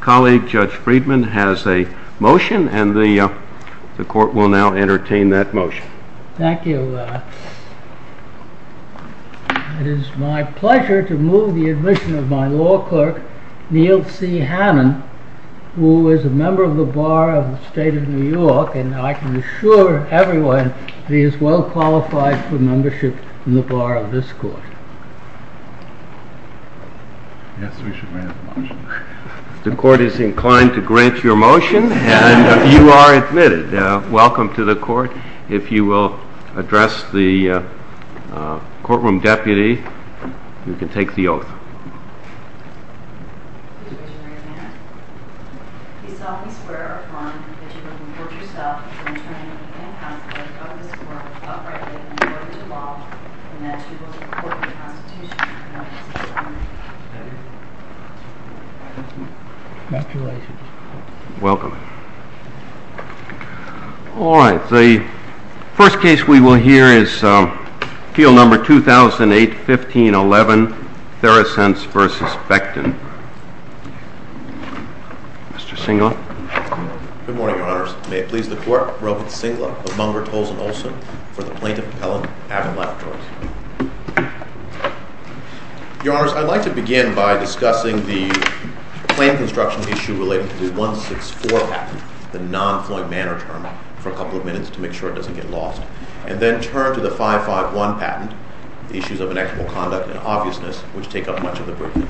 Colleague Judge Friedman has a motion and the court will now entertain that motion. Thank you. It is my pleasure to move the admission of my law clerk, Neil C. Hannon, who is a member of the Bar of the State of New York, and I can assure everyone that he is well qualified for membership in the Bar of this court. The court is inclined to grant your motion and you are admitted. Welcome to the court. If you will address the courtroom deputy, you can take the oath. Mr. Hannon, we solemnly swear upon that you will report yourself to the attorney and counsel of this court uprightly in accordance with the law, and that you will report to the Constitution in accordance with the law. Thank you. Congratulations. Welcome. All right. The first case we will hear is field number 2008-15-11, Therasense v. Becton. Mr. Singlup. Good morning, Your Honors. May it please the court, Robert Singlup of Munger, Tolles, and Olson, for the plaintiff, Helen Avinlack, please. Your Honors, I'd like to begin by discussing the claim construction issue related to the 164 patent, the non-flowing manner term, for a couple of minutes to make sure it doesn't get lost, and then turn to the 551 patent, the issues of inexplicable conduct and obviousness, which take up much of the briefing.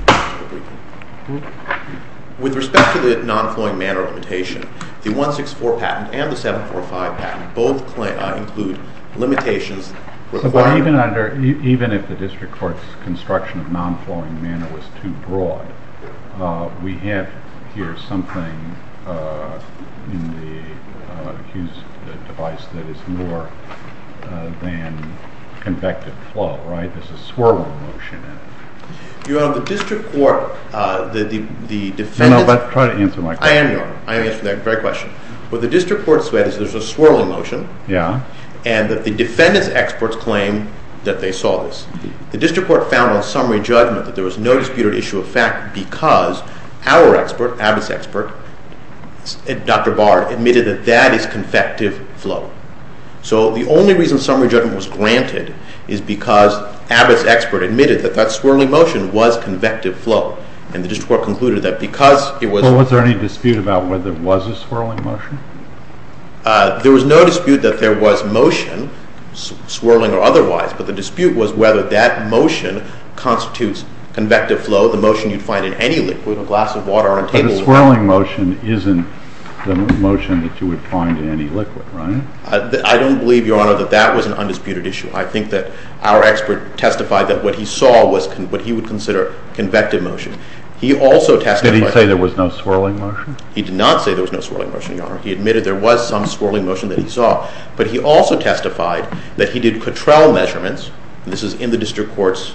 With respect to the non-flowing manner limitation, the 164 patent and the 745 patent both include limitations requiring Even if the district court's construction of non-flowing manner was too broad, we have here something in the Hughes device that is more than convective flow, right? There's a swirling motion in it. Your Honor, the district court, the defendants No, no, but try to answer my question. What the district court said is there's a swirling motion, and that the defendant's experts claim that they saw this. The district court found on summary judgment that there was no disputed issue of fact because our expert, Abbott's expert, Dr. Barr, admitted that that is convective flow. So the only reason summary judgment was granted is because Abbott's expert admitted that that swirling motion was convective flow, and the district court concluded that because it was Was there any dispute about whether it was a swirling motion? There was no dispute that there was motion, swirling or otherwise, but the dispute was whether that motion constitutes convective flow, the motion you'd find in any liquid, a glass of water on a table But the swirling motion isn't the motion that you would find in any liquid, right? I don't believe, Your Honor, that that was an undisputed issue. I think that our expert testified that what he saw was what he would consider convective motion. Did he say there was no swirling motion? He did not say there was no swirling motion, Your Honor. He admitted there was some swirling motion that he saw. But he also testified that he did Cottrell measurements, and this is in the district court's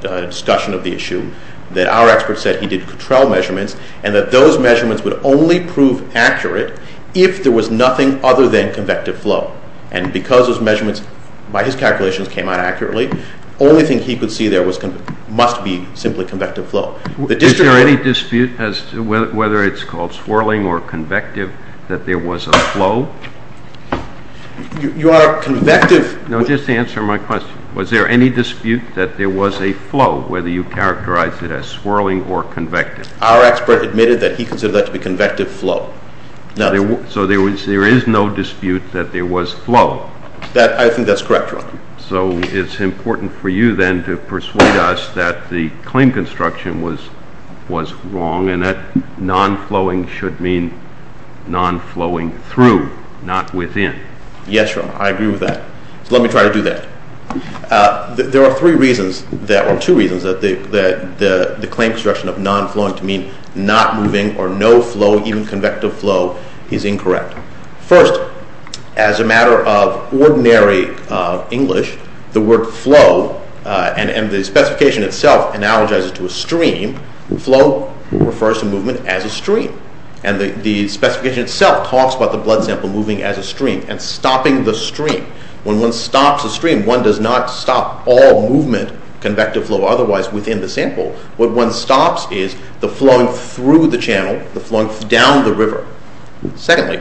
discussion of the issue, that our expert said he did Cottrell measurements, and that those measurements would only prove accurate if there was nothing other than convective flow. And because those measurements, by his calculations, came out accurately, the only thing he could see there must be simply convective flow. Is there any dispute as to whether it's called swirling or convective, that there was a flow? Your Honor, convective... No, just answer my question. Was there any dispute that there was a flow, whether you characterize it as swirling or convective? Our expert admitted that he considered that to be convective flow. So there is no dispute that there was flow? I think that's correct, Your Honor. So it's important for you then to persuade us that the claim construction was wrong, and that non-flowing should mean non-flowing through, not within. Yes, Your Honor. I agree with that. So let me try to do that. There are two reasons that the claim construction of non-flowing to mean not moving or no flow, even convective flow, is incorrect. First, as a matter of ordinary English, the word flow, and the specification itself analogizes to a stream. Flow refers to movement as a stream. And the specification itself talks about the blood sample moving as a stream and stopping the stream. When one stops a stream, one does not stop all movement, convective flow otherwise, within the sample. What one stops is the flowing through the channel, the flowing down the river. Secondly,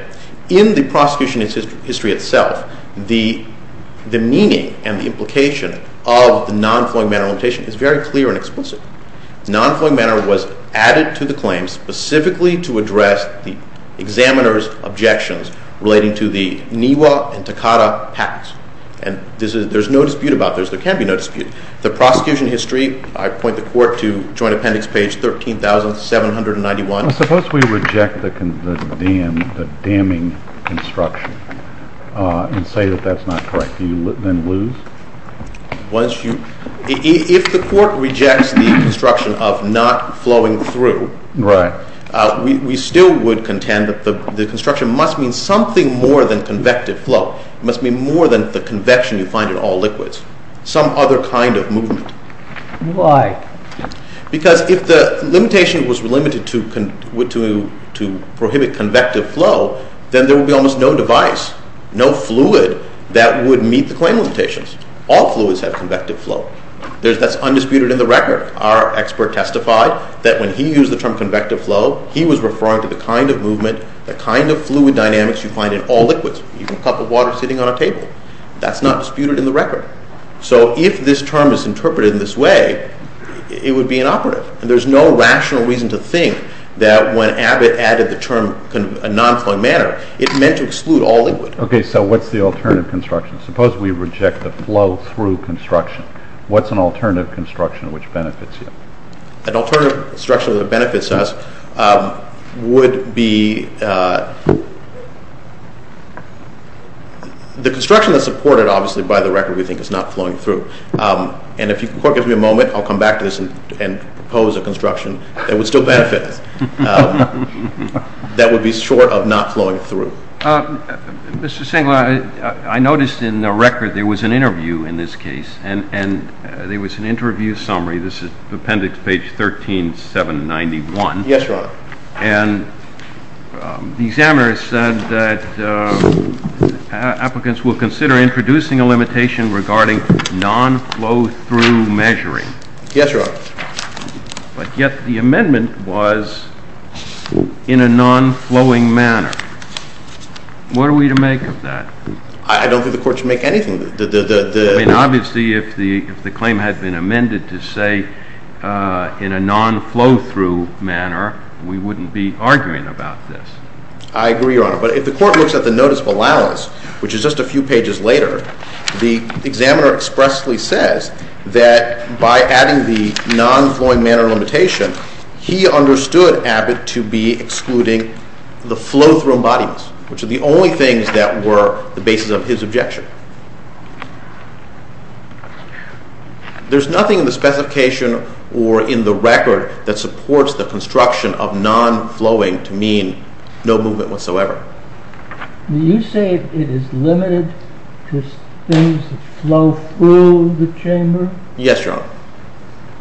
in the prosecution history itself, the meaning and the implication of the non-flowing manner limitation is very clear and explicit. Non-flowing manner was added to the claim specifically to address the examiner's objections relating to the Niwa and Takata pacts. And there's no dispute about this. There can be no dispute. The prosecution history, I point the court to Joint Appendix page 13,791. Suppose we reject the damming construction and say that that's not correct. Do you then lose? If the court rejects the construction of not flowing through, we still would contend that the construction must mean something more than convective flow. It must mean more than the convection you find in all liquids. Some other kind of movement. Why? Because if the limitation was limited to prohibit convective flow, then there would be almost no device, no fluid that would meet the claim limitations. All fluids have convective flow. That's undisputed in the record. Our expert testified that when he used the term convective flow, he was referring to the kind of movement, the kind of fluid dynamics you find in all liquids. Even a cup of water sitting on a table. That's not disputed in the record. So if this term is interpreted in this way, it would be inoperative. There's no rational reason to think that when Abbott added the term non-flowing manner, it meant to exclude all liquids. Okay, so what's the alternative construction? Suppose we reject the flow through construction. What's an alternative construction which benefits you? An alternative construction that benefits us would be the construction that's supported, obviously, by the record we think is not flowing through. And if the court gives me a moment, I'll come back to this and propose a construction that would still benefit us. That would be short of not flowing through. Mr. Singler, I noticed in the record there was an interview in this case. And there was an interview summary. This is appendix page 13791. Yes, Your Honor. And the examiner said that applicants will consider introducing a limitation regarding non-flow through measuring. Yes, Your Honor. But yet the amendment was in a non-flowing manner. What are we to make of that? I don't think the court should make anything. Obviously, if the claim had been amended to say in a non-flow through manner, we wouldn't be arguing about this. I agree, Your Honor. But if the court looks at the notice of allowance, which is just a few pages later, the examiner expressly says that by adding the non-flowing manner limitation, he understood Abbott to be excluding the flow through embodiments, which are the only things that were the basis of his objection. There's nothing in the specification or in the record that supports the construction of non-flowing to mean no movement whatsoever. Do you say it is limited to things that flow through the chamber? Yes, Your Honor.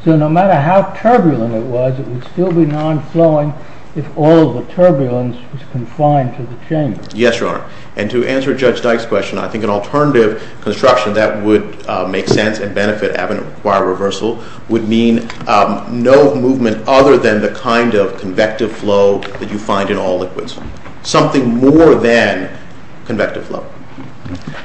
So no matter how turbulent it was, it would still be non-flowing if all the turbulence was confined to the chamber. Yes, Your Honor. And to answer Judge Dyke's question, I think an alternative construction that would make sense and benefit Abbott and require reversal would mean no movement other than the kind of convective flow that you find in all liquids. Something more than convective flow.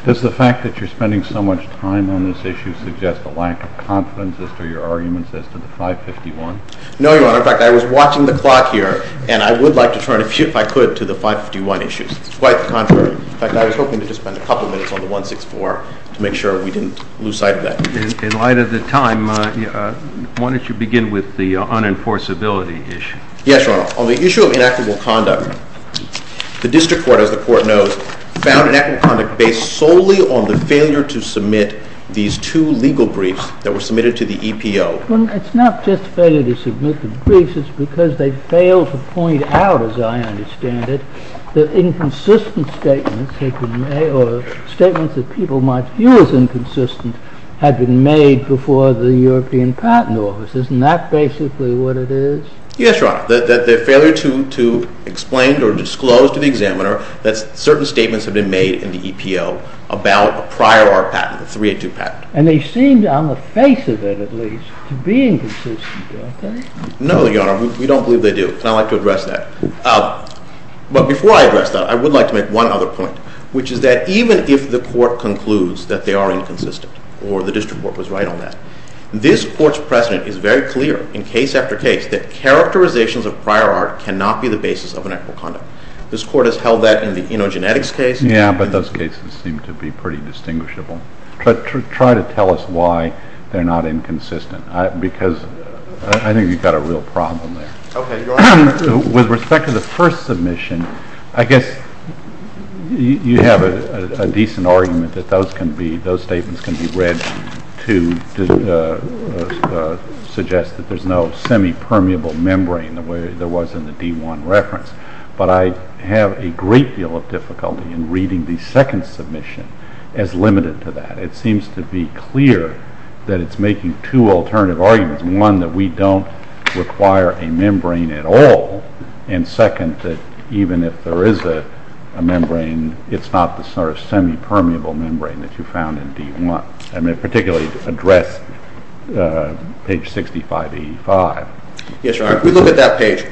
Does the fact that you're spending so much time on this issue suggest a lack of confidence as to your arguments as to the 551? No, Your Honor. In fact, I was watching the clock here, and I would like to turn, if I could, to the 551 issue. It's quite the contrary. In fact, I was hoping to just spend a couple minutes on the 164 to make sure we didn't lose sight of that. In light of the time, why don't you begin with the unenforceability issue? Yes, Your Honor. On the issue of inactive conduct, the district court, as the court knows, found inactive conduct based solely on the failure to submit these two legal briefs that were submitted to the EPO. It's not just failure to submit the briefs. It's because they failed to point out, as I understand it, that inconsistent statements or statements that people might view as inconsistent had been made before the European Patent Office. Isn't that basically what it is? Yes, Your Honor. The failure to explain or disclose to the examiner that certain statements have been made in the EPO about a prior art patent, the 382 patent. And they seem, on the face of it at least, to be inconsistent, don't they? No, Your Honor. We don't believe they do. And I'd like to address that. But before I address that, I would like to make one other point, which is that even if the court concludes that they are inconsistent, or the district court was right on that, this court's precedent is very clear in case after case that characterizations of prior art cannot be the basis of an equitable conduct. This court has held that in the InnoGenetics case. Yeah, but those cases seem to be pretty distinguishable. Try to tell us why they're not inconsistent, because I think you've got a real problem there. Okay, Your Honor. With respect to the first submission, I guess you have a decent argument that those statements can be read to suggest that there's no semi-permeable membrane the way there was in the D1 reference. But I have a great deal of difficulty in reading the second submission as limited to that. It seems to be clear that it's making two alternative arguments. One, that we don't require a membrane at all, and second, that even if there is a membrane, it's not the sort of semi-permeable membrane that you found in D1. I mean, particularly to address page 65E5. Yes, Your Honor. If we look at that page,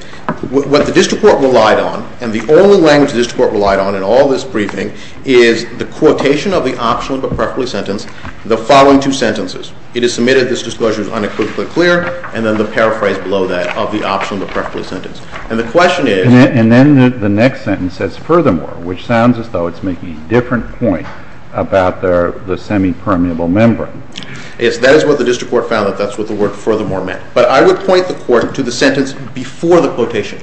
what the district court relied on, and the only language the district court relied on in all this briefing, is the quotation of the optionally but preferably sentence the following two sentences. It is submitted that this disclosure is unequivocally clear, and then the paraphrase below that of the optionally but preferably sentence. And the question is— And then the next sentence says, furthermore, which sounds as though it's making a different point about the semi-permeable membrane. Yes, that is what the district court found, that that's what the word furthermore meant. But I would point the court to the sentence before the quotation,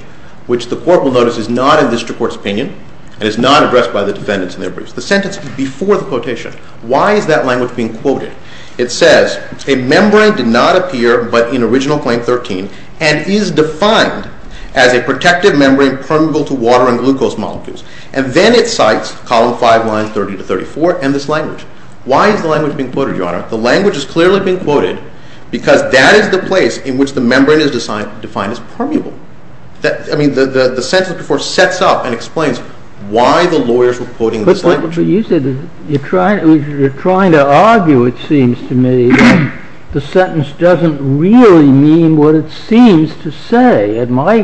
which the court will notice is not in the district court's opinion, and is not addressed by the defendants in their briefs. The sentence before the quotation. Why is that language being quoted? It says, a membrane did not appear but in original claim 13, and is defined as a protective membrane permeable to water and glucose molecules. And then it cites column 5, line 30 to 34, and this language. Why is the language being quoted, Your Honor? The language is clearly being quoted because that is the place in which the membrane is defined as permeable. I mean, the sentence before sets up and explains why the lawyers were quoting this language. But you said you're trying to argue, it seems to me, that the sentence doesn't really mean what it seems to say. And my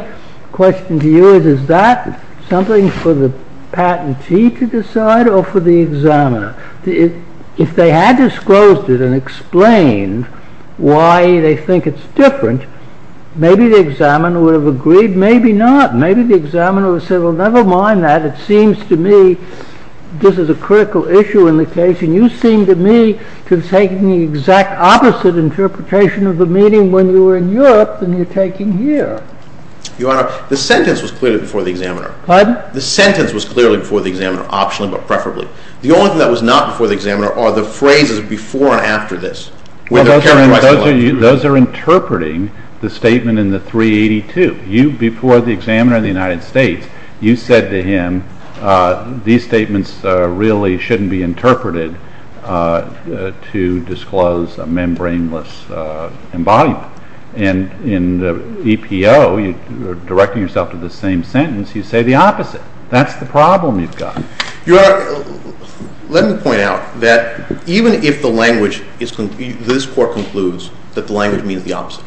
question to you is, is that something for the patentee to decide or for the examiner? If they had disclosed it and explained why they think it's different, maybe the examiner would have agreed. Maybe not. Maybe the examiner would have said, well, never mind that. It seems to me this is a critical issue in the case. And you seem to me to have taken the exact opposite interpretation of the meaning when you were in Europe than you're taking here. Your Honor, the sentence was clearly before the examiner. Pardon? The sentence was clearly before the examiner, optionally but preferably. The only thing that was not before the examiner are the phrases before and after this. Those are interpreting the statement in the 382. Before the examiner in the United States, you said to him these statements really shouldn't be interpreted to disclose a membrane-less embodiment. And in the EPO, you're directing yourself to the same sentence. You say the opposite. That's the problem you've got. Your Honor, let me point out that even if this court concludes that the language means the opposite,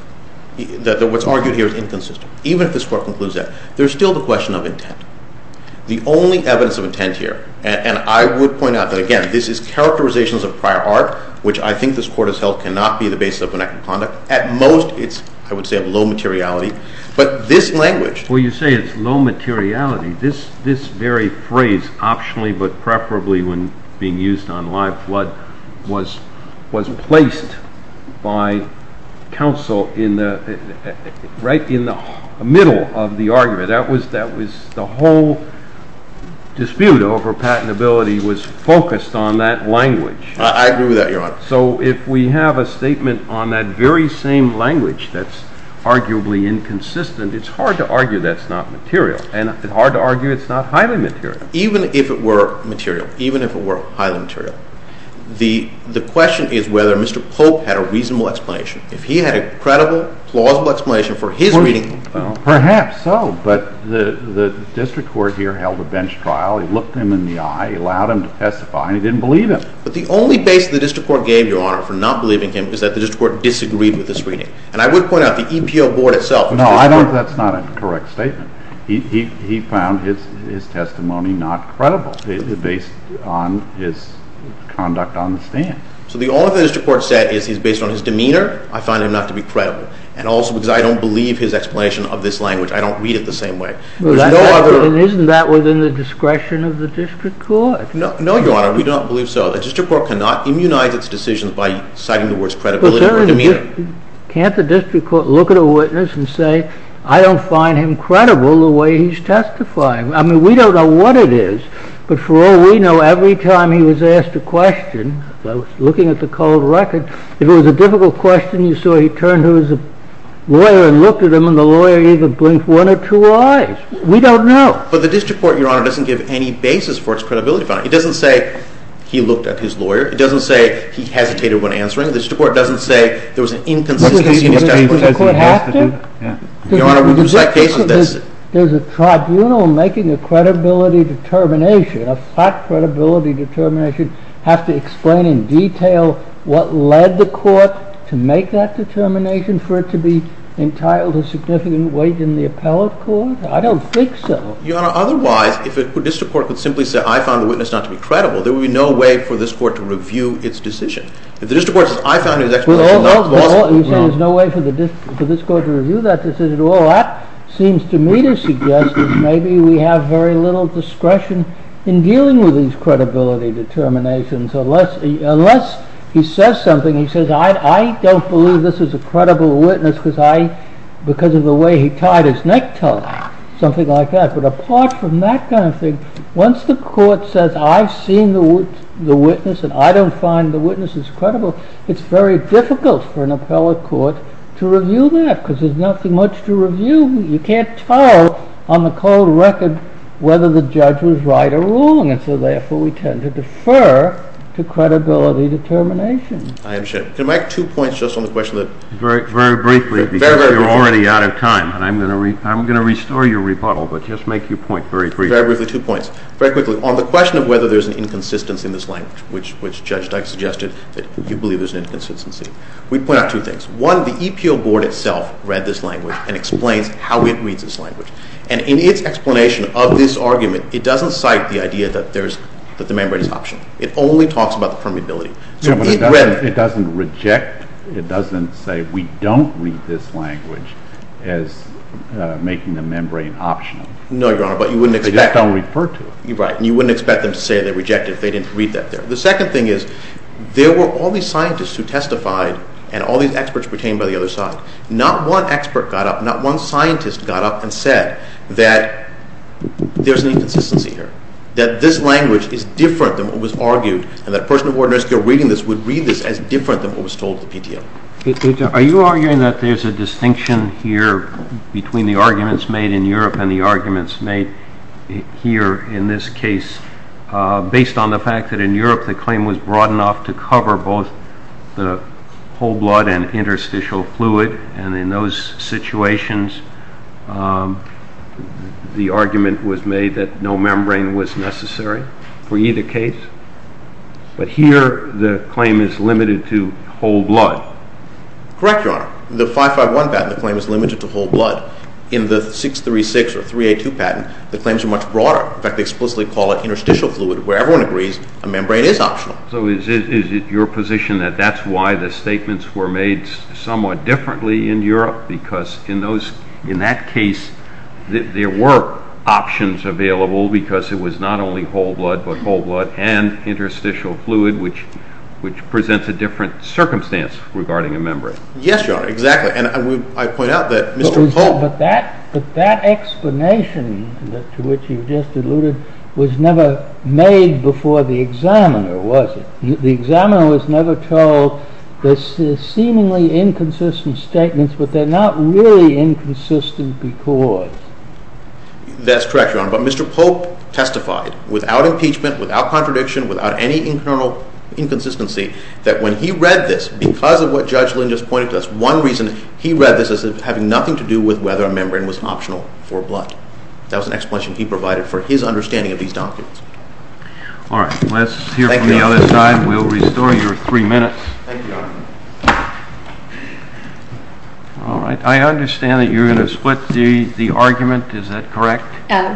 that what's argued here is inconsistent, even if this court concludes that, there's still the question of intent. The only evidence of intent here, and I would point out that, again, this is characterizations of prior art, which I think this court has held cannot be the basis of an act of conduct. At most, it's, I would say, of low materiality. Well, you say it's low materiality. This very phrase, optionally but preferably when being used on live flood, was placed by counsel right in the middle of the argument. The whole dispute over patentability was focused on that language. I agree with that, Your Honor. So if we have a statement on that very same language that's arguably inconsistent, it's hard to argue that's not material, and it's hard to argue it's not highly material. Even if it were material, even if it were highly material, the question is whether Mr. Pope had a reasonable explanation. If he had a credible, plausible explanation for his reading… Perhaps so, but the district court here held a bench trial. It looked him in the eye. It allowed him to testify, and he didn't believe him. But the only base the district court gave, Your Honor, for not believing him is that the district court disagreed with this reading. And I would point out the EPO board itself… No, I don't think that's not a correct statement. He found his testimony not credible based on his conduct on the stand. So the only thing the district court said is he's based on his demeanor. I find him not to be credible. And also because I don't believe his explanation of this language. I don't read it the same way. Isn't that within the discretion of the district court? No, Your Honor. We don't believe so. The district court cannot immunize its decisions by citing the words credibility or demeanor. Can't the district court look at a witness and say, I don't find him credible the way he's testifying? I mean, we don't know what it is, but for all we know, every time he was asked a question, looking at the cold record, if it was a difficult question, you saw he turned to his lawyer and looked at him, and the lawyer even blinked one or two eyes. We don't know. But the district court, Your Honor, doesn't give any basis for its credibility finding. It doesn't say he looked at his lawyer. It doesn't say he hesitated when answering. The district court doesn't say there was an inconsistency in his testimony. Does the court have to? Your Honor, when you cite cases, that's it. Does a tribunal making a credibility determination, a fact credibility determination, have to explain in detail what led the court to make that determination for it to be entitled to significant weight in the appellate court? I don't think so. Your Honor, otherwise, if a district court could simply say, I found the witness not to be credible, there would be no way for this court to review its decision. If the district court says, I found his explanation not to be credible. You say there's no way for this court to review that decision at all. That seems to me to suggest that maybe we have very little discretion in dealing with these credibility determinations. Unless he says something, he says, I don't believe this is a credible witness because of the way he tied his necktie, something like that. But apart from that kind of thing, once the court says, I've seen the witness and I don't find the witnesses credible, it's very difficult for an appellate court to review that because there's nothing much to review. You can't tell on the cold record whether the judge was right or wrong. And so, therefore, we tend to defer to credibility determination. I understand. Can I make two points just on the question? Very briefly, because we're already out of time. And I'm going to restore your rebuttal, but just make your point very briefly. Very briefly, two points. Very quickly, on the question of whether there's an inconsistency in this language, which Judge Dyke suggested that you believe there's an inconsistency. We'd point out two things. One, the EPO board itself read this language and explains how it reads this language. And in its explanation of this argument, it doesn't cite the idea that there's the membranes option. It only talks about the permeability. It doesn't reject. It doesn't say we don't read this language as making the membrane optional. No, Your Honor, but you wouldn't expect. They just don't refer to it. Right. And you wouldn't expect them to say they reject it if they didn't read that there. The second thing is there were all these scientists who testified and all these experts pertaining by the other side. Not one expert got up, not one scientist got up and said that there's an inconsistency here, that this language is different than what was argued, and that a person of ordinary skill reading this would read this as different than what was told to the PTO. Are you arguing that there's a distinction here between the arguments made in Europe and the arguments made here in this case based on the fact that in Europe the claim was broad enough to cover both the whole blood and interstitial fluid, and in those situations the argument was made that no membrane was necessary for either case? But here the claim is limited to whole blood. Correct, Your Honor. In the 551 patent the claim is limited to whole blood. In the 636 or 382 patent the claims are much broader. In fact, they explicitly call it interstitial fluid where everyone agrees a membrane is optional. So is it your position that that's why the statements were made somewhat differently in Europe? Because in that case there were options available because it was not only whole blood, but whole blood and interstitial fluid, which presents a different circumstance regarding a membrane. Yes, Your Honor, exactly. But that explanation to which you just alluded was never made before the examiner, was it? The examiner was never told the seemingly inconsistent statements, but they're not really inconsistent because? That's correct, Your Honor. But Mr. Pope testified without impeachment, without contradiction, without any internal inconsistency, that when he read this, because of what Judge Lin just pointed to, that's one reason he read this as having nothing to do with whether a membrane was optional for blood. That was an explanation he provided for his understanding of these documents. All right, let's hear from the other side. We'll restore your three minutes. Thank you, Your Honor. All right, I understand that you're going to split the argument, is that correct?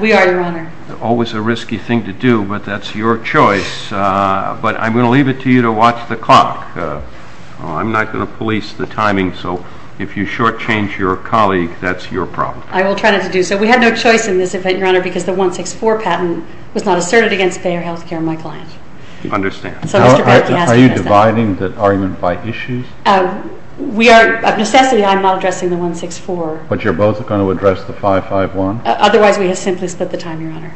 We are, Your Honor. Always a risky thing to do, but that's your choice. But I'm going to leave it to you to watch the clock. I'm not going to police the timing, so if you shortchange your colleague, that's your problem. I will try not to do so. We had no choice in this event, Your Honor, because the 164 patent was not asserted against Bayer Healthcare, my client. I understand. Are you dividing the argument by issues? We are, of necessity, I'm not addressing the 164. But you're both going to address the 551? Otherwise, we have simply split the time, Your Honor.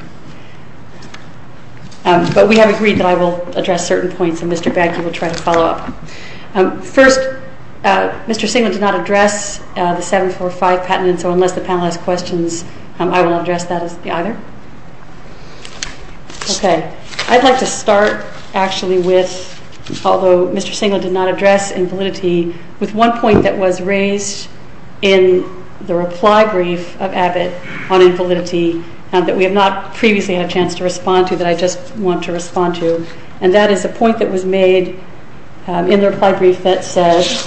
But we have agreed that I will address certain points, and Mr. Bagley will try to follow up. First, Mr. Singleton did not address the 745 patent, and so unless the panel has questions, I will not address that either. Okay, I'd like to start actually with, although Mr. Singleton did not address invalidity, with one point that was raised in the reply brief of Abbott on invalidity, that we have not previously had a chance to respond to, that I just want to respond to. And that is a point that was made in the reply brief that says,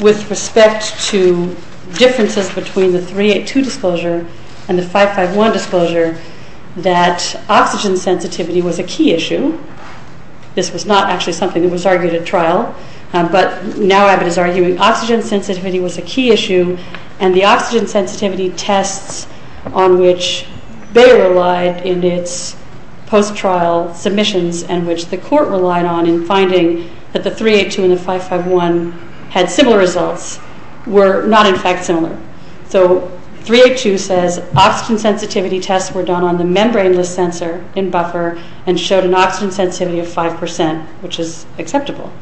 with respect to differences between the 382 disclosure and the 551 disclosure, that oxygen sensitivity was a key issue. This was not actually something that was argued at trial, but now Abbott is arguing oxygen sensitivity was a key issue, and the oxygen sensitivity tests on which they relied in its post-trial submissions and which the court relied on in finding that the 382 and the 551 had similar results were not, in fact, similar. So 382 says oxygen sensitivity tests were done on the membrane-less sensor in buffer and showed an oxygen sensitivity of 5%, which is acceptable.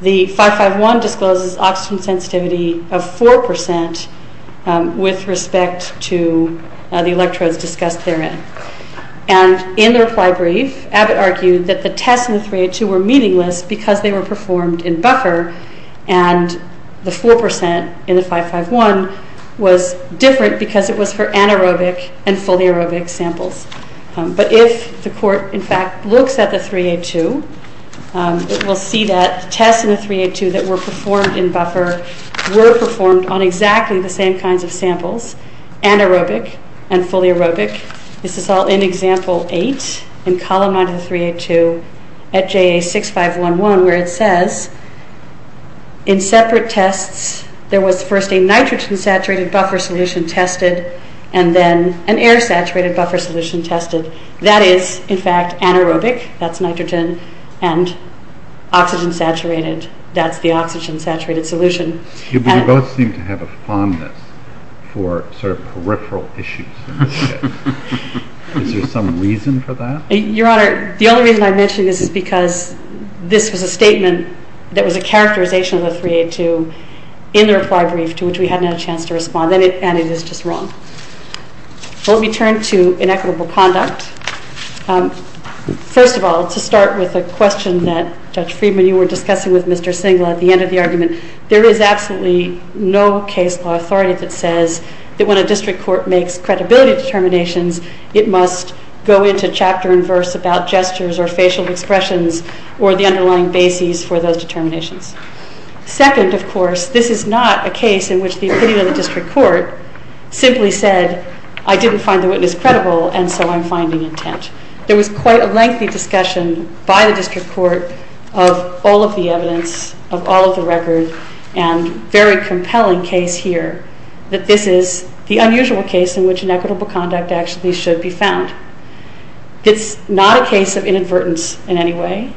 The 551 discloses oxygen sensitivity of 4% with respect to the electrodes discussed therein. And in the reply brief, Abbott argued that the tests in the 382 were meaningless because they were performed in buffer, and the 4% in the 551 was different because it was for anaerobic and foliarobic samples. But if the court, in fact, looks at the 382, it will see that the tests in the 382 that were performed in buffer were performed on exactly the same kinds of samples, anaerobic and foliarobic. This is all in Example 8 in Column 9 of the 382 at JA6511, where it says in separate tests there was first a nitrogen-saturated buffer solution tested and then an air-saturated buffer solution tested. That is, in fact, anaerobic. That's nitrogen. And oxygen-saturated, that's the oxygen-saturated solution. You both seem to have a fondness for sort of peripheral issues. Is there some reason for that? Your Honor, the only reason I mention this is because this was a statement that was a characterization of the 382 in the reply brief, to which we hadn't had a chance to respond, and it is just wrong. Let me turn to inequitable conduct. First of all, to start with a question that, Judge Friedman, you were discussing with Mr. Singler at the end of the argument, there is absolutely no case law authority that says that when a district court makes credibility determinations, it must go into chapter and verse about gestures or facial expressions or the underlying bases for those determinations. Second, of course, this is not a case in which the opinion of the district court simply said, I didn't find the witness credible, and so I'm finding intent. There was quite a lengthy discussion by the district court of all of the evidence, of all of the record, and a very compelling case here, that this is the unusual case in which inequitable conduct actually should be found. It's not a case of inadvertence in any way.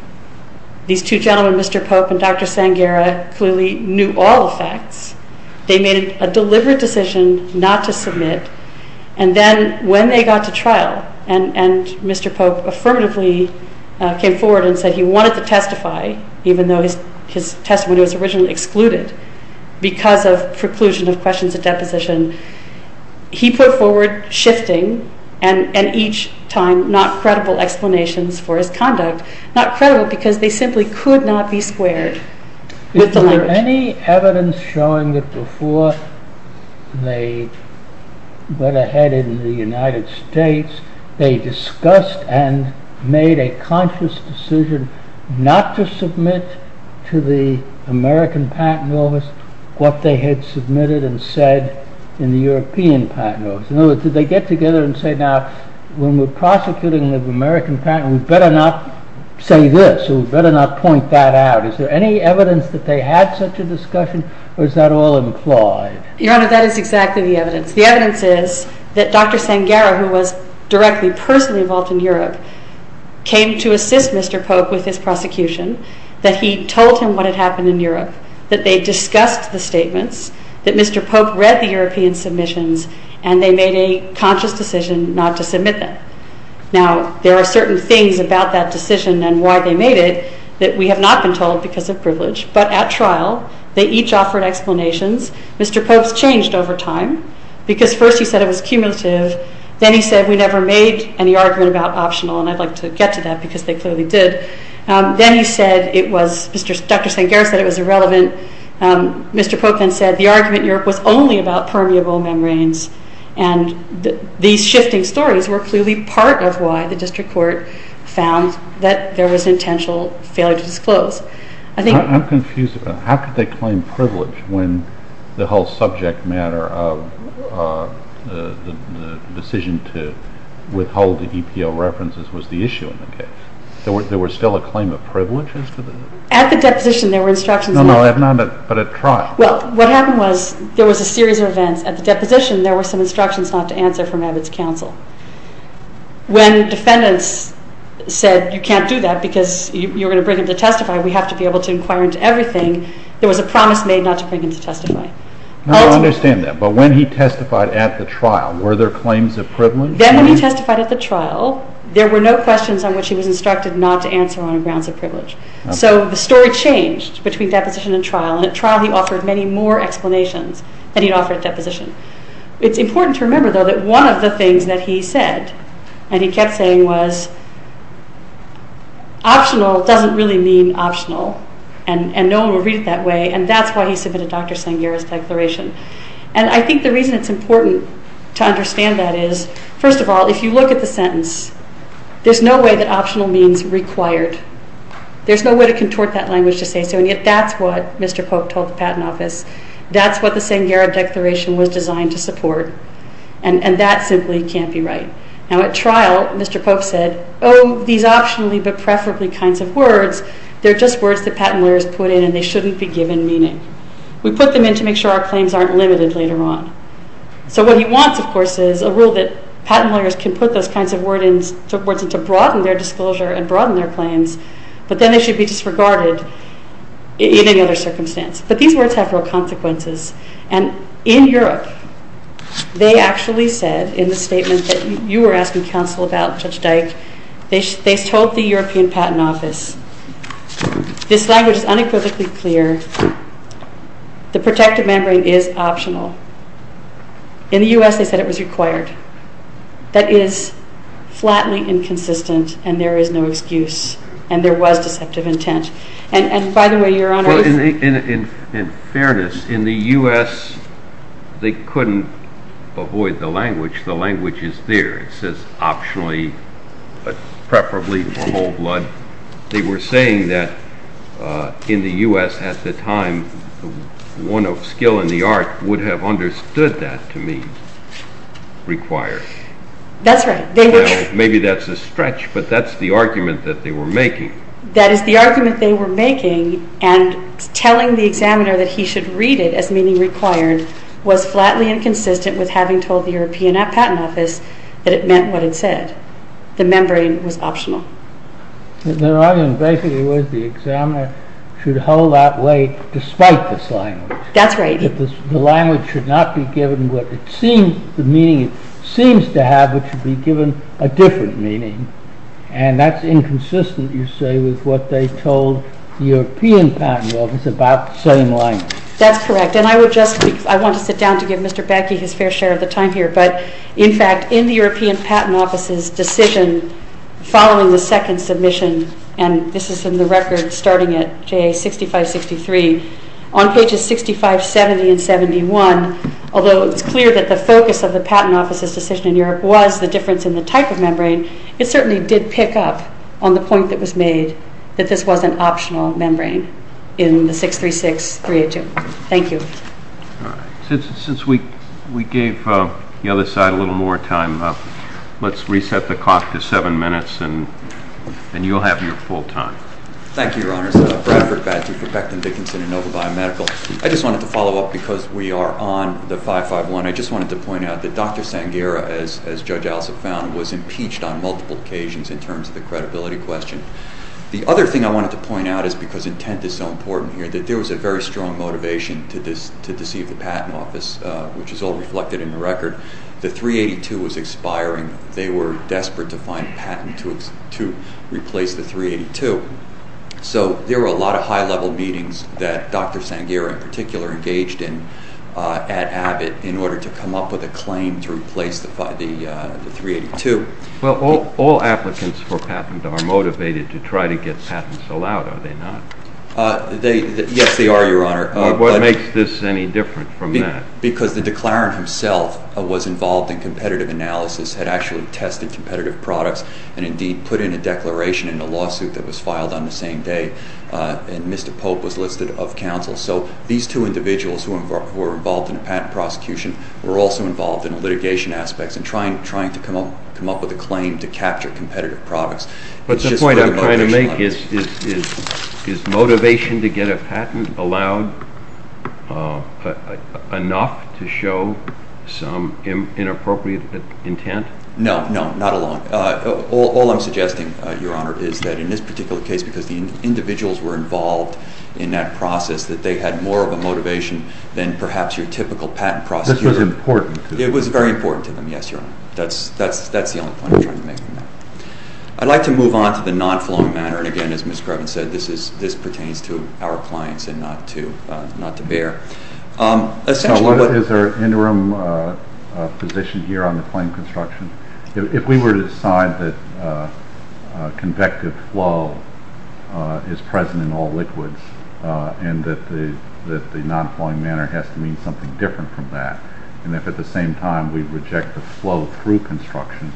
These two gentlemen, Mr. Pope and Dr. Sanghera, clearly knew all the facts. They made a deliberate decision not to submit, and then when they got to trial, and Mr. Pope affirmatively came forward and said he wanted to testify, even though his testimony was originally excluded, because of preclusion of questions at deposition, he put forward shifting and each time not credible explanations for his conduct, not credible because they simply could not be squared with the language. Is there any evidence showing that before they went ahead in the United States, they discussed and made a conscious decision not to submit to the American patent office what they had submitted and said in the European patent office? In other words, did they get together and say, now when we're prosecuting the American patent, we better not say this, or we better not point that out. Is there any evidence that they had such a discussion, or is that all implied? Your Honor, that is exactly the evidence. The evidence is that Dr. Sanghera, who was directly, personally involved in Europe, came to assist Mr. Pope with his prosecution, that he told him what had happened in Europe, that they discussed the statements, that Mr. Pope read the European submissions, and they made a conscious decision not to submit them. Now, there are certain things about that decision and why they made it that we have not been told because of privilege. But at trial, they each offered explanations. Mr. Pope's changed over time because first he said it was cumulative. Then he said we never made any argument about optional, and I'd like to get to that because they clearly did. Mr. Pope then said the argument in Europe was only about permeable membranes, and these shifting stories were clearly part of why the district court found that there was an intentional failure to disclose. I'm confused about how could they claim privilege when the whole subject matter of the decision to withhold the EPO references was the issue in the case? There was still a claim of privilege? At the deposition, there were instructions. No, no, but at trial. Well, what happened was there was a series of events. At the deposition, there were some instructions not to answer from Abbott's counsel. When defendants said you can't do that because you're going to bring him to testify, we have to be able to inquire into everything, there was a promise made not to bring him to testify. No, I understand that. But when he testified at the trial, were there claims of privilege? Then when he testified at the trial, there were no questions on which he was instructed not to answer on grounds of privilege. So the story changed between deposition and trial, and at trial he offered many more explanations than he'd offered at deposition. It's important to remember, though, that one of the things that he said, and he kept saying, was optional doesn't really mean optional, and no one would read it that way, and that's why he submitted Dr. Sanghera's declaration. And I think the reason it's important to understand that is, first of all, if you look at the sentence, there's no way that optional means required. There's no way to contort that language to say so, and yet that's what Mr. Pope told the Patent Office. That's what the Sanghera declaration was designed to support, and that simply can't be right. Now at trial, Mr. Pope said, oh, these optionally but preferably kinds of words, they're just words that patent lawyers put in, and they shouldn't be given meaning. We put them in to make sure our claims aren't limited later on. So what he wants, of course, is a rule that patent lawyers can put those kinds of words in to broaden their disclosure and broaden their claims, but then they should be disregarded in any other circumstance. But these words have real consequences, and in Europe they actually said in the statement that you were asking counsel about, Judge Dyke, they told the European Patent Office, this language is unequivocally clear, the protective membrane is optional. In the U.S. they said it was required. That is flatly inconsistent, and there is no excuse, and there was deceptive intent. And by the way, Your Honor... In fairness, in the U.S. they couldn't avoid the language. The language is there. It says optionally but preferably for whole blood. They were saying that in the U.S. at the time, one of skill in the art would have understood that to mean required. That's right. Well, maybe that's a stretch, but that's the argument that they were making. That is the argument they were making, and telling the examiner that he should read it as meaning required was flatly inconsistent with having told the European Patent Office that it meant what it said. The membrane was optional. Their argument basically was the examiner should hold that weight despite this language. That's right. The language should not be given what it seems, the meaning it seems to have, but should be given a different meaning, and that's inconsistent, you say, with what they told the European Patent Office about the same language. That's correct, and I would just... I want to sit down to give Mr. Beckey his fair share of the time here, but in fact, in the European Patent Office's decision following the second submission, and this is in the record starting at J.A. 6563, on pages 65, 70, and 71, although it's clear that the focus of the Patent Office's decision in Europe was the difference in the type of membrane, it certainly did pick up on the point that was made that this was an optional membrane in the 636382. Thank you. All right. Since we gave the other side a little more time, and you'll have your full time. Thank you, Your Honors. Bradford Batty for Becton Dickinson and Nova Biomedical. I just wanted to follow up because we are on the 551. I just wanted to point out that Dr. Sangheira, as Judge Alsop found, was impeached on multiple occasions in terms of the credibility question. The other thing I wanted to point out is because intent is so important here, that there was a very strong motivation to deceive the Patent Office, which is all reflected in the record. The 382 was expiring. They were desperate to find a patent to replace the 382. So there were a lot of high-level meetings that Dr. Sangheira in particular engaged in at Abbott in order to come up with a claim to replace the 382. Well, all applicants for patent are motivated to try to get patents allowed, are they not? Yes, they are, Your Honor. What makes this any different from that? Because the declarant himself was involved in competitive analysis, had actually tested competitive products, and indeed put in a declaration in a lawsuit that was filed on the same day. And Mr. Pope was listed of counsel. So these two individuals who were involved in a patent prosecution were also involved in litigation aspects and trying to come up with a claim to capture competitive products. But the point I'm trying to make is is motivation to get a patent allowed enough to show some inappropriate intent? No, no, not at all. All I'm suggesting, Your Honor, is that in this particular case, because the individuals were involved in that process, that they had more of a motivation than perhaps your typical patent prosecutor. This was important to them. It was very important to them, yes, Your Honor. That's the only point I'm trying to make on that. I'd like to move on to the non-flowing matter. And again, as Ms. Grevin said, this pertains to our clients and not to BEHR. Is there an interim position here on the claim construction? If we were to decide that convective flow is present in all liquids and that the non-flowing matter has to mean something different from that, and if at the same time we reject the flow through construction,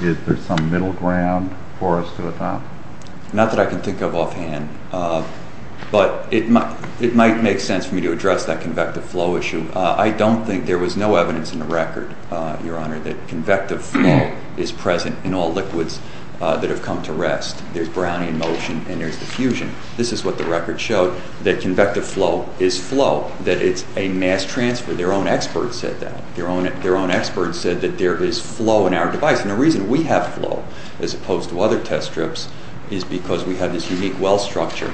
is there some middle ground for us to adopt? Not that I can think of offhand, but it might make sense for me to address that convective flow issue. I don't think there was no evidence in the record, Your Honor, that convective flow is present in all liquids that have come to rest. There's Brownian motion and there's diffusion. This is what the record showed, that convective flow is flow, that it's a mass transfer. Their own experts said that. Their own experts said that there is flow in our device. And the reason we have flow, as opposed to other test strips, is because we have this unique well structure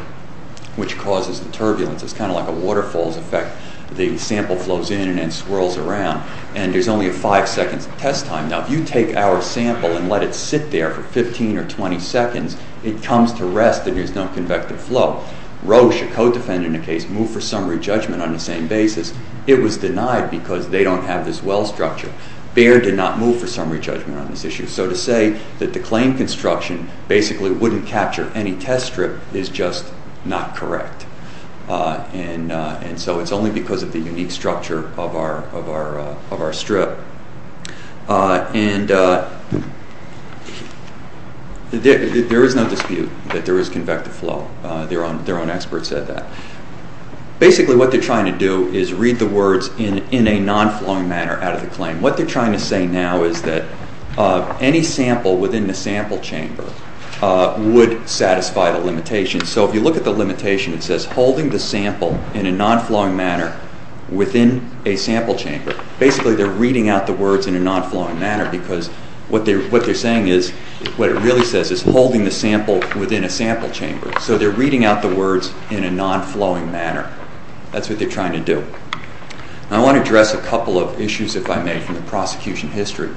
which causes the turbulence. It's kind of like a waterfall's effect. The sample flows in and then swirls around. And there's only a five second test time. Now if you take our sample and let it sit there for 15 or 20 seconds, it comes to rest and there's no convective flow. Roche, a co-defendant in the case, moved for summary judgment on the same basis. It was denied because they don't have this well structure. Baird did not move for summary judgment on this issue. So to say that the claimed construction basically wouldn't capture any test strip is just not correct. And so it's only because of the unique structure of our strip. There is no dispute that there is convective flow. Their own experts said that. Basically what they're trying to do is read the words in a non-flowing manner out of the claim. What they're trying to say now is that any sample within the sample chamber would satisfy the limitation. So if you look at the limitation, it says holding the sample in a non-flowing manner within a sample chamber. Basically they're reading out the words in a non-flowing manner because what they're saying is, what it really says is holding the sample within a sample chamber. So they're reading out the words in a non-flowing manner. That's what they're trying to do. I want to address a couple of issues, if I may, from the prosecution history.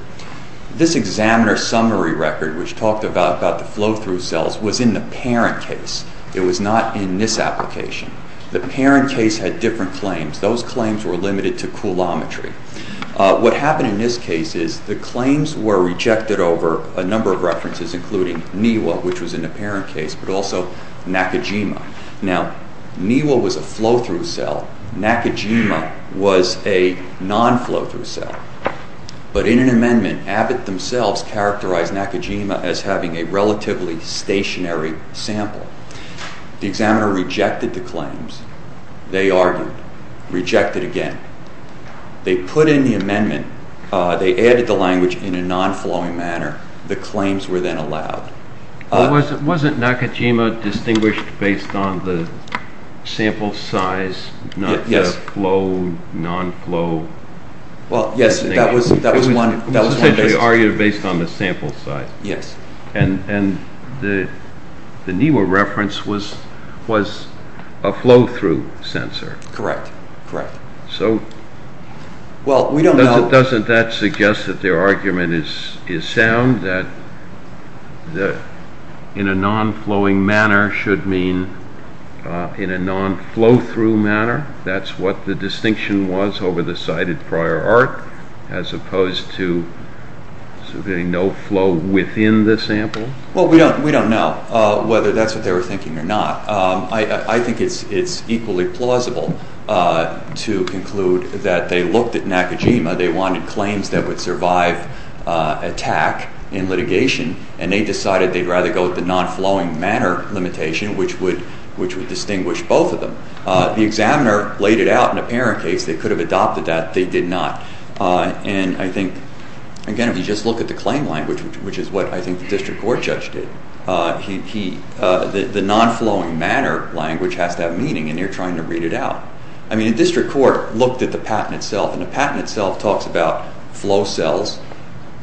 This examiner summary record, which talked about the flow-through cells, was in the parent case. It was not in this application. The parent case had different claims. Those claims were limited to coulometry. What happened in this case is the claims were rejected over a number of references, including NIWA, which was in the parent case, but also Nakajima. Now, NIWA was a flow-through cell. Nakajima was a non-flow-through cell. But in an amendment, Abbott themselves characterized Nakajima as having a relatively stationary sample. The examiner rejected the claims. They argued. Rejected again. They put in the amendment. They added the language in a non-flowing manner. The claims were then allowed. Wasn't Nakajima distinguished based on the sample size, not the flow, non-flow? Well, yes, that was one basis. It was essentially argued based on the sample size. Yes. And the NIWA reference was a flow-through sensor. Correct. So, doesn't that suggest that their argument is sound? That in a non-flowing manner should mean in a non-flow-through manner? That's what the distinction was over the cited prior art, as opposed to no flow within the sample? Well, we don't know whether that's what they were thinking or not. I think it's equally plausible to conclude that they looked at Nakajima. They wanted claims that would survive attack in litigation. And they decided they'd rather go with the non-flowing manner limitation, which would distinguish both of them. The examiner laid it out. In the parent case, they could have adopted that. They did not. And I think, again, if you just look at the claim language, which is what I think the district court judge did, the non-flowing manner language has that meaning, and they're trying to read it out. I mean, the district court looked at the patent itself, and the patent itself talks about flow cells,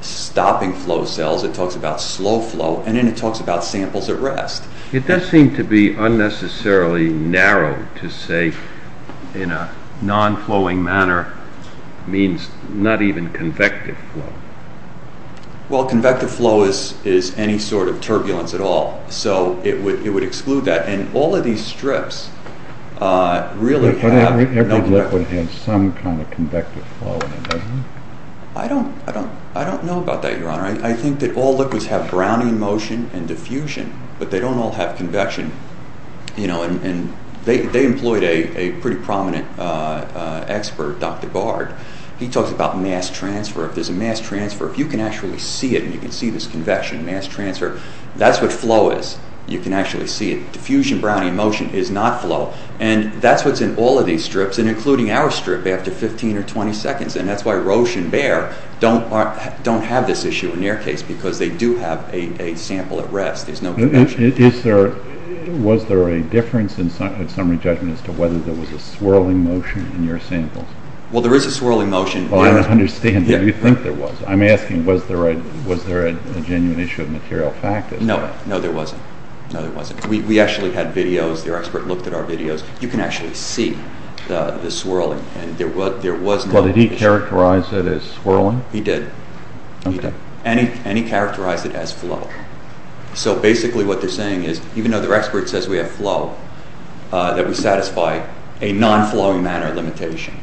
stopping flow cells. It talks about slow flow, and then it talks about samples at rest. It does seem to be unnecessarily narrow to say in a non-flowing manner means not even convective flow. Well, convective flow is any sort of turbulence at all, so it would exclude that. And all of these strips really have... But every liquid has some kind of convective flow in it, doesn't it? I don't know about that, Your Honor. I think that all liquids have browning motion and diffusion, but they don't all have convection. They employed a pretty prominent expert, Dr. Bard. He talks about mass transfer. If there's a mass transfer, if you can actually see it, and you can see this convection, mass transfer, that's what flow is. You can actually see it. Diffusion browning motion is not flow, and that's what's in all of these strips, and including our strip after 15 or 20 seconds, and that's why Roche and Baer don't have this issue in their case, because they do have a sample at rest. There's no convection. Was there a difference in summary in your judgment as to whether there was a swirling motion in your samples? Well, there is a swirling motion. I don't understand what you think there was. I'm asking, was there a genuine issue of material factors? No, there wasn't. We actually had videos. Their expert looked at our videos. You can actually see the swirling. There was no diffusion. Did he characterize it as swirling? He did. And he characterized it as flow. So basically what they're saying is, even though their expert says we have flow, that we satisfy a non-flowing manner limitation.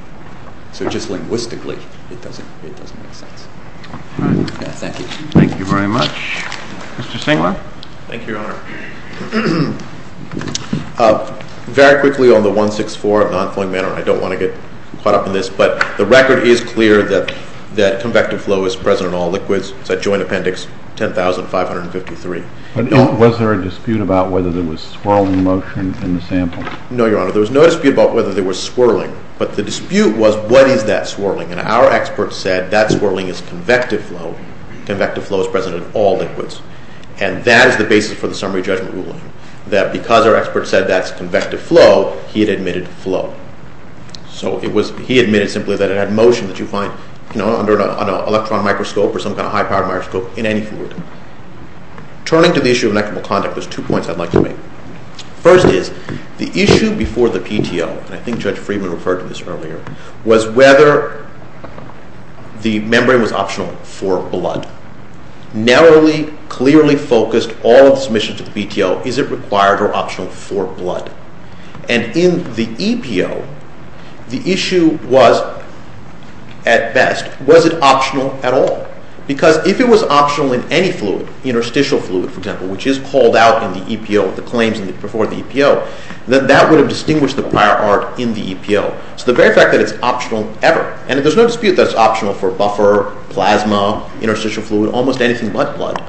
So just linguistically, it doesn't make sense. Thank you. Thank you very much. Mr. Stengler? Thank you, Your Honor. Very quickly on the 164 of non-flowing manner. I don't want to get caught up in this, but the record is clear that convective flow is present in all liquids. It's at Joint Appendix 10553. Was there a dispute about whether there was swirling motion in the sample? No, Your Honor. There was no dispute about whether there was swirling. But the dispute was what is that swirling? And our expert said that swirling is convective flow. Convective flow is present in all liquids. And that is the basis for the summary judgment ruling. That because our expert said that's convective flow, he had admitted flow. So he admitted simply that it had motion that you find under an electron microscope or some kind of high-powered microscope in any fluid. Turning to the issue of inequitable conduct, there's two points I'd like to make. First is the issue before the PTO, and I think Judge Friedman referred to this earlier, was whether the membrane was optional for blood. Narrowly, clearly focused, all of the submissions to the PTO, is it required or optional for blood? And in the EPO, the issue was at best, was it optional at all? Because if it was optional in any fluid, interstitial fluid for example, which is called out in the EPO with the claims before the EPO, then that would have distinguished the prior art in the EPO. So the very fact that it's optional ever, and there's no dispute that it's optional for buffer, plasma, interstitial fluid, almost anything but blood,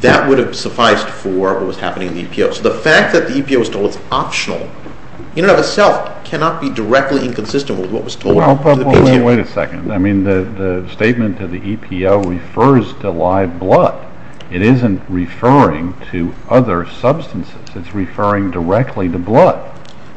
that would have sufficed for what was happening in the EPO. So the fact that in and of itself cannot be directly inconsistent with what was told to the PTO. Wait a second. I mean the statement of the EPO refers to live blood. It isn't referring to other substances. It's referring directly to blood.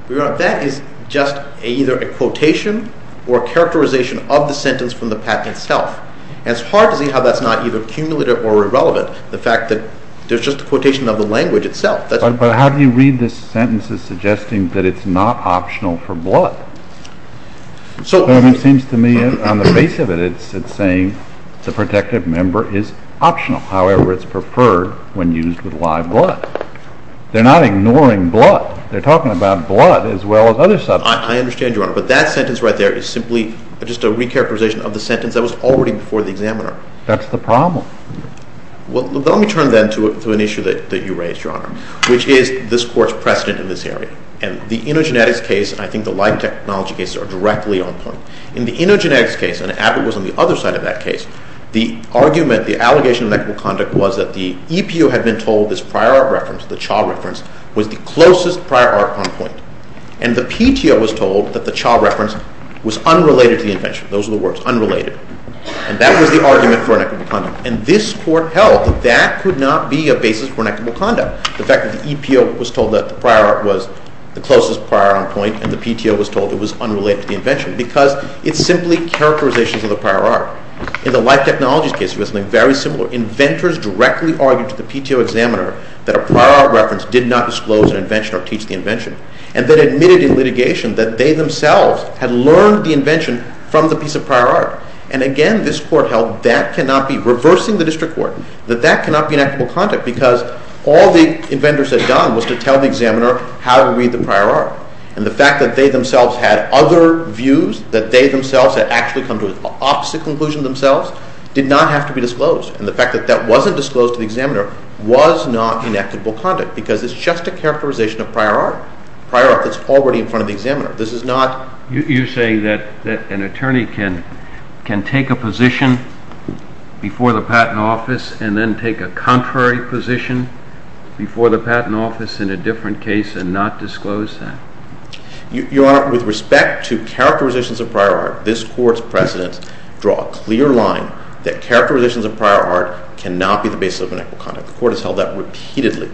That is just either a quotation or characterization of the sentence from the patent itself. And it's hard to see how that's not either cumulative or irrelevant. The fact that there's just a quotation of the language itself. But how do you read this sentence as suggesting that it's not optional for blood? It seems to me on the face of it, it's saying the protective member is optional. However, it's preferred when used with live blood. They're not ignoring blood. They're talking about blood as well as other substances. I understand, Your Honor. But that sentence right there is simply just a re-characterization of the sentence that was already before the examiner. That's the problem. Well, let me turn then to an issue that you raised, Your Honor, which is this Court's precedent in this area. And the live technology cases are directly on point. In the InnoGenetics case, and Abbott was on the other side of that case, the argument, the allegation of inequitable conduct was that the EPO had been told this prior art reference, the Cha reference, was the closest prior art on point. And the PTO was told that the Cha reference was unrelated to the invention. Those are the words. Unrelated. And that was the argument for inequitable conduct. And this Court held that that could not be a basis for inequitable conduct. The fact that the EPO was told that the prior art was the closest prior art on point, and the PTO was told it was unrelated to the invention, because it's simply characterizations of the prior art. In the live technologies case, it was something very similar. Inventors directly argued to the PTO examiner that a prior art reference did not disclose an invention or teach the invention. And then admitted in litigation that they themselves had learned the invention from the piece of prior art. And again, this Court held that cannot be, reversing the district court, that that cannot be inequitable conduct because all the inventors had done was to tell the examiner how to read the prior art. And the fact that they themselves had other views that they themselves had actually come to opposite conclusions themselves, did not have to be disclosed. And the fact that that wasn't disclosed to the examiner was not inequitable conduct because it's just a characterization of prior art. Prior art that's already in front of the examiner. This is not... You're saying that an attorney can take a position before the patent office and then take a contrary position before the patent office in a different case and not disclose that? Your Honor, with respect to characterizations of prior art, this Court's precedents draw a clear line that characterizations of prior art cannot be the basis of inequitable conduct. The Court has held that repeatedly.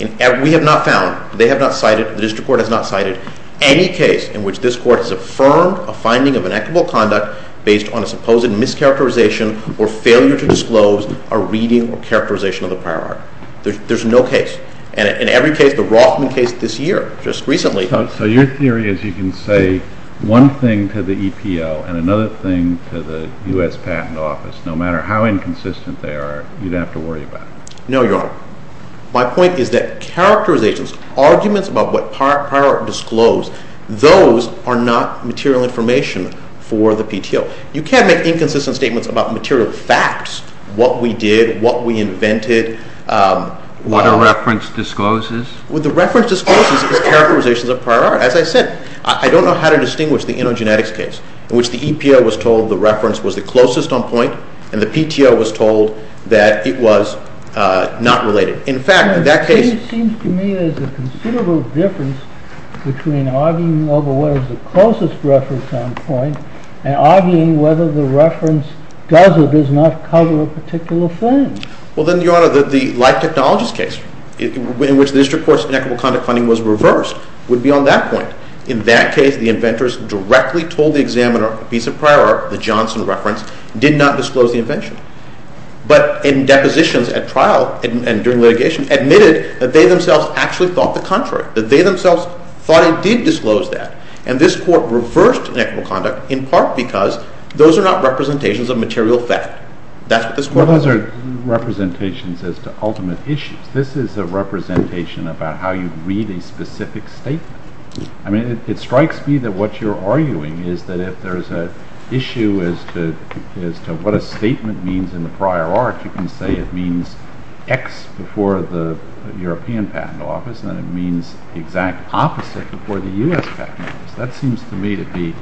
And we have not found, they have not cited, the district court has not cited any case in which this Court has affirmed a finding of inequitable conduct based on a supposed mischaracterization or failure to disclose a reading or characterization of the prior art. There's no case. And in every case, the Rothman case this year, just recently... So your theory is you can say one thing to the EPO and another thing to the U.S. Patent Office, no matter how inconsistent they are, you don't have to worry about it. No, Your Honor. My point is that characterizations, arguments about what prior art disclosed, those are not material information for the PTO. You can't make inconsistent statements about material facts, what we did, what we invented. What a reference discloses? What the reference discloses is characterizations of prior art. As I said, I don't know how to distinguish the Enogenetics case, in which the EPO was told the reference was the closest on point, and the PTO was told that it was not related. In fact, in that case... It seems to me there's a considerable difference between arguing over what is the closest reference on point and arguing whether the reference does or does not cover a particular thing. Well, then, Your Honor, the Life Technologies case, in which the district court's inequitable conduct funding was reversed, would be on that point. In that case, the inventors directly told the examiner a piece of prior art, the Johnson reference, did not disclose the invention. But in depositions at trial and during litigation, admitted that they themselves actually thought the contrary, that they themselves thought it did disclose that. And this court reversed inequitable conduct in part because those are not representations of material fact. That's what this court argued. What are representations as to ultimate issues? This is a representation about how you read a specific statement. I mean, it strikes me that what you're arguing is that if there's an issue as to what a statement means in the prior art, you can say it means X before the European Patent Office, and it means the exact opposite before the U.S. Patent Office. That seems to me to be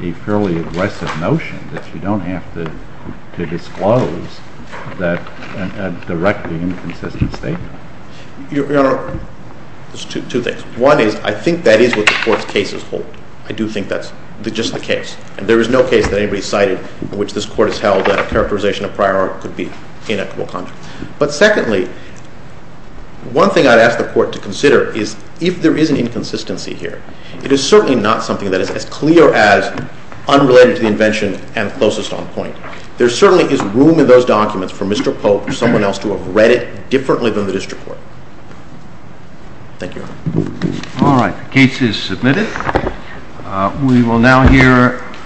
a fairly aggressive notion that you don't have to disclose a directly inconsistent statement. Your Honor, there's two things. One is, I think that is what the court's cases hold. I do think that's just the case. And there is no case that anybody cited in which this court has held that characterization of prior art could be inequitable conduct. But secondly, one thing I'd ask the court to consider is if there is an inconsistency here, it is certainly not something that is as clear as unrelated to the invention and closest on point. There certainly is room in those documents for Mr. Pope or someone else to have read it differently than the district court. Thank you, Your Honor. All right. Case is submitted. We will now hear a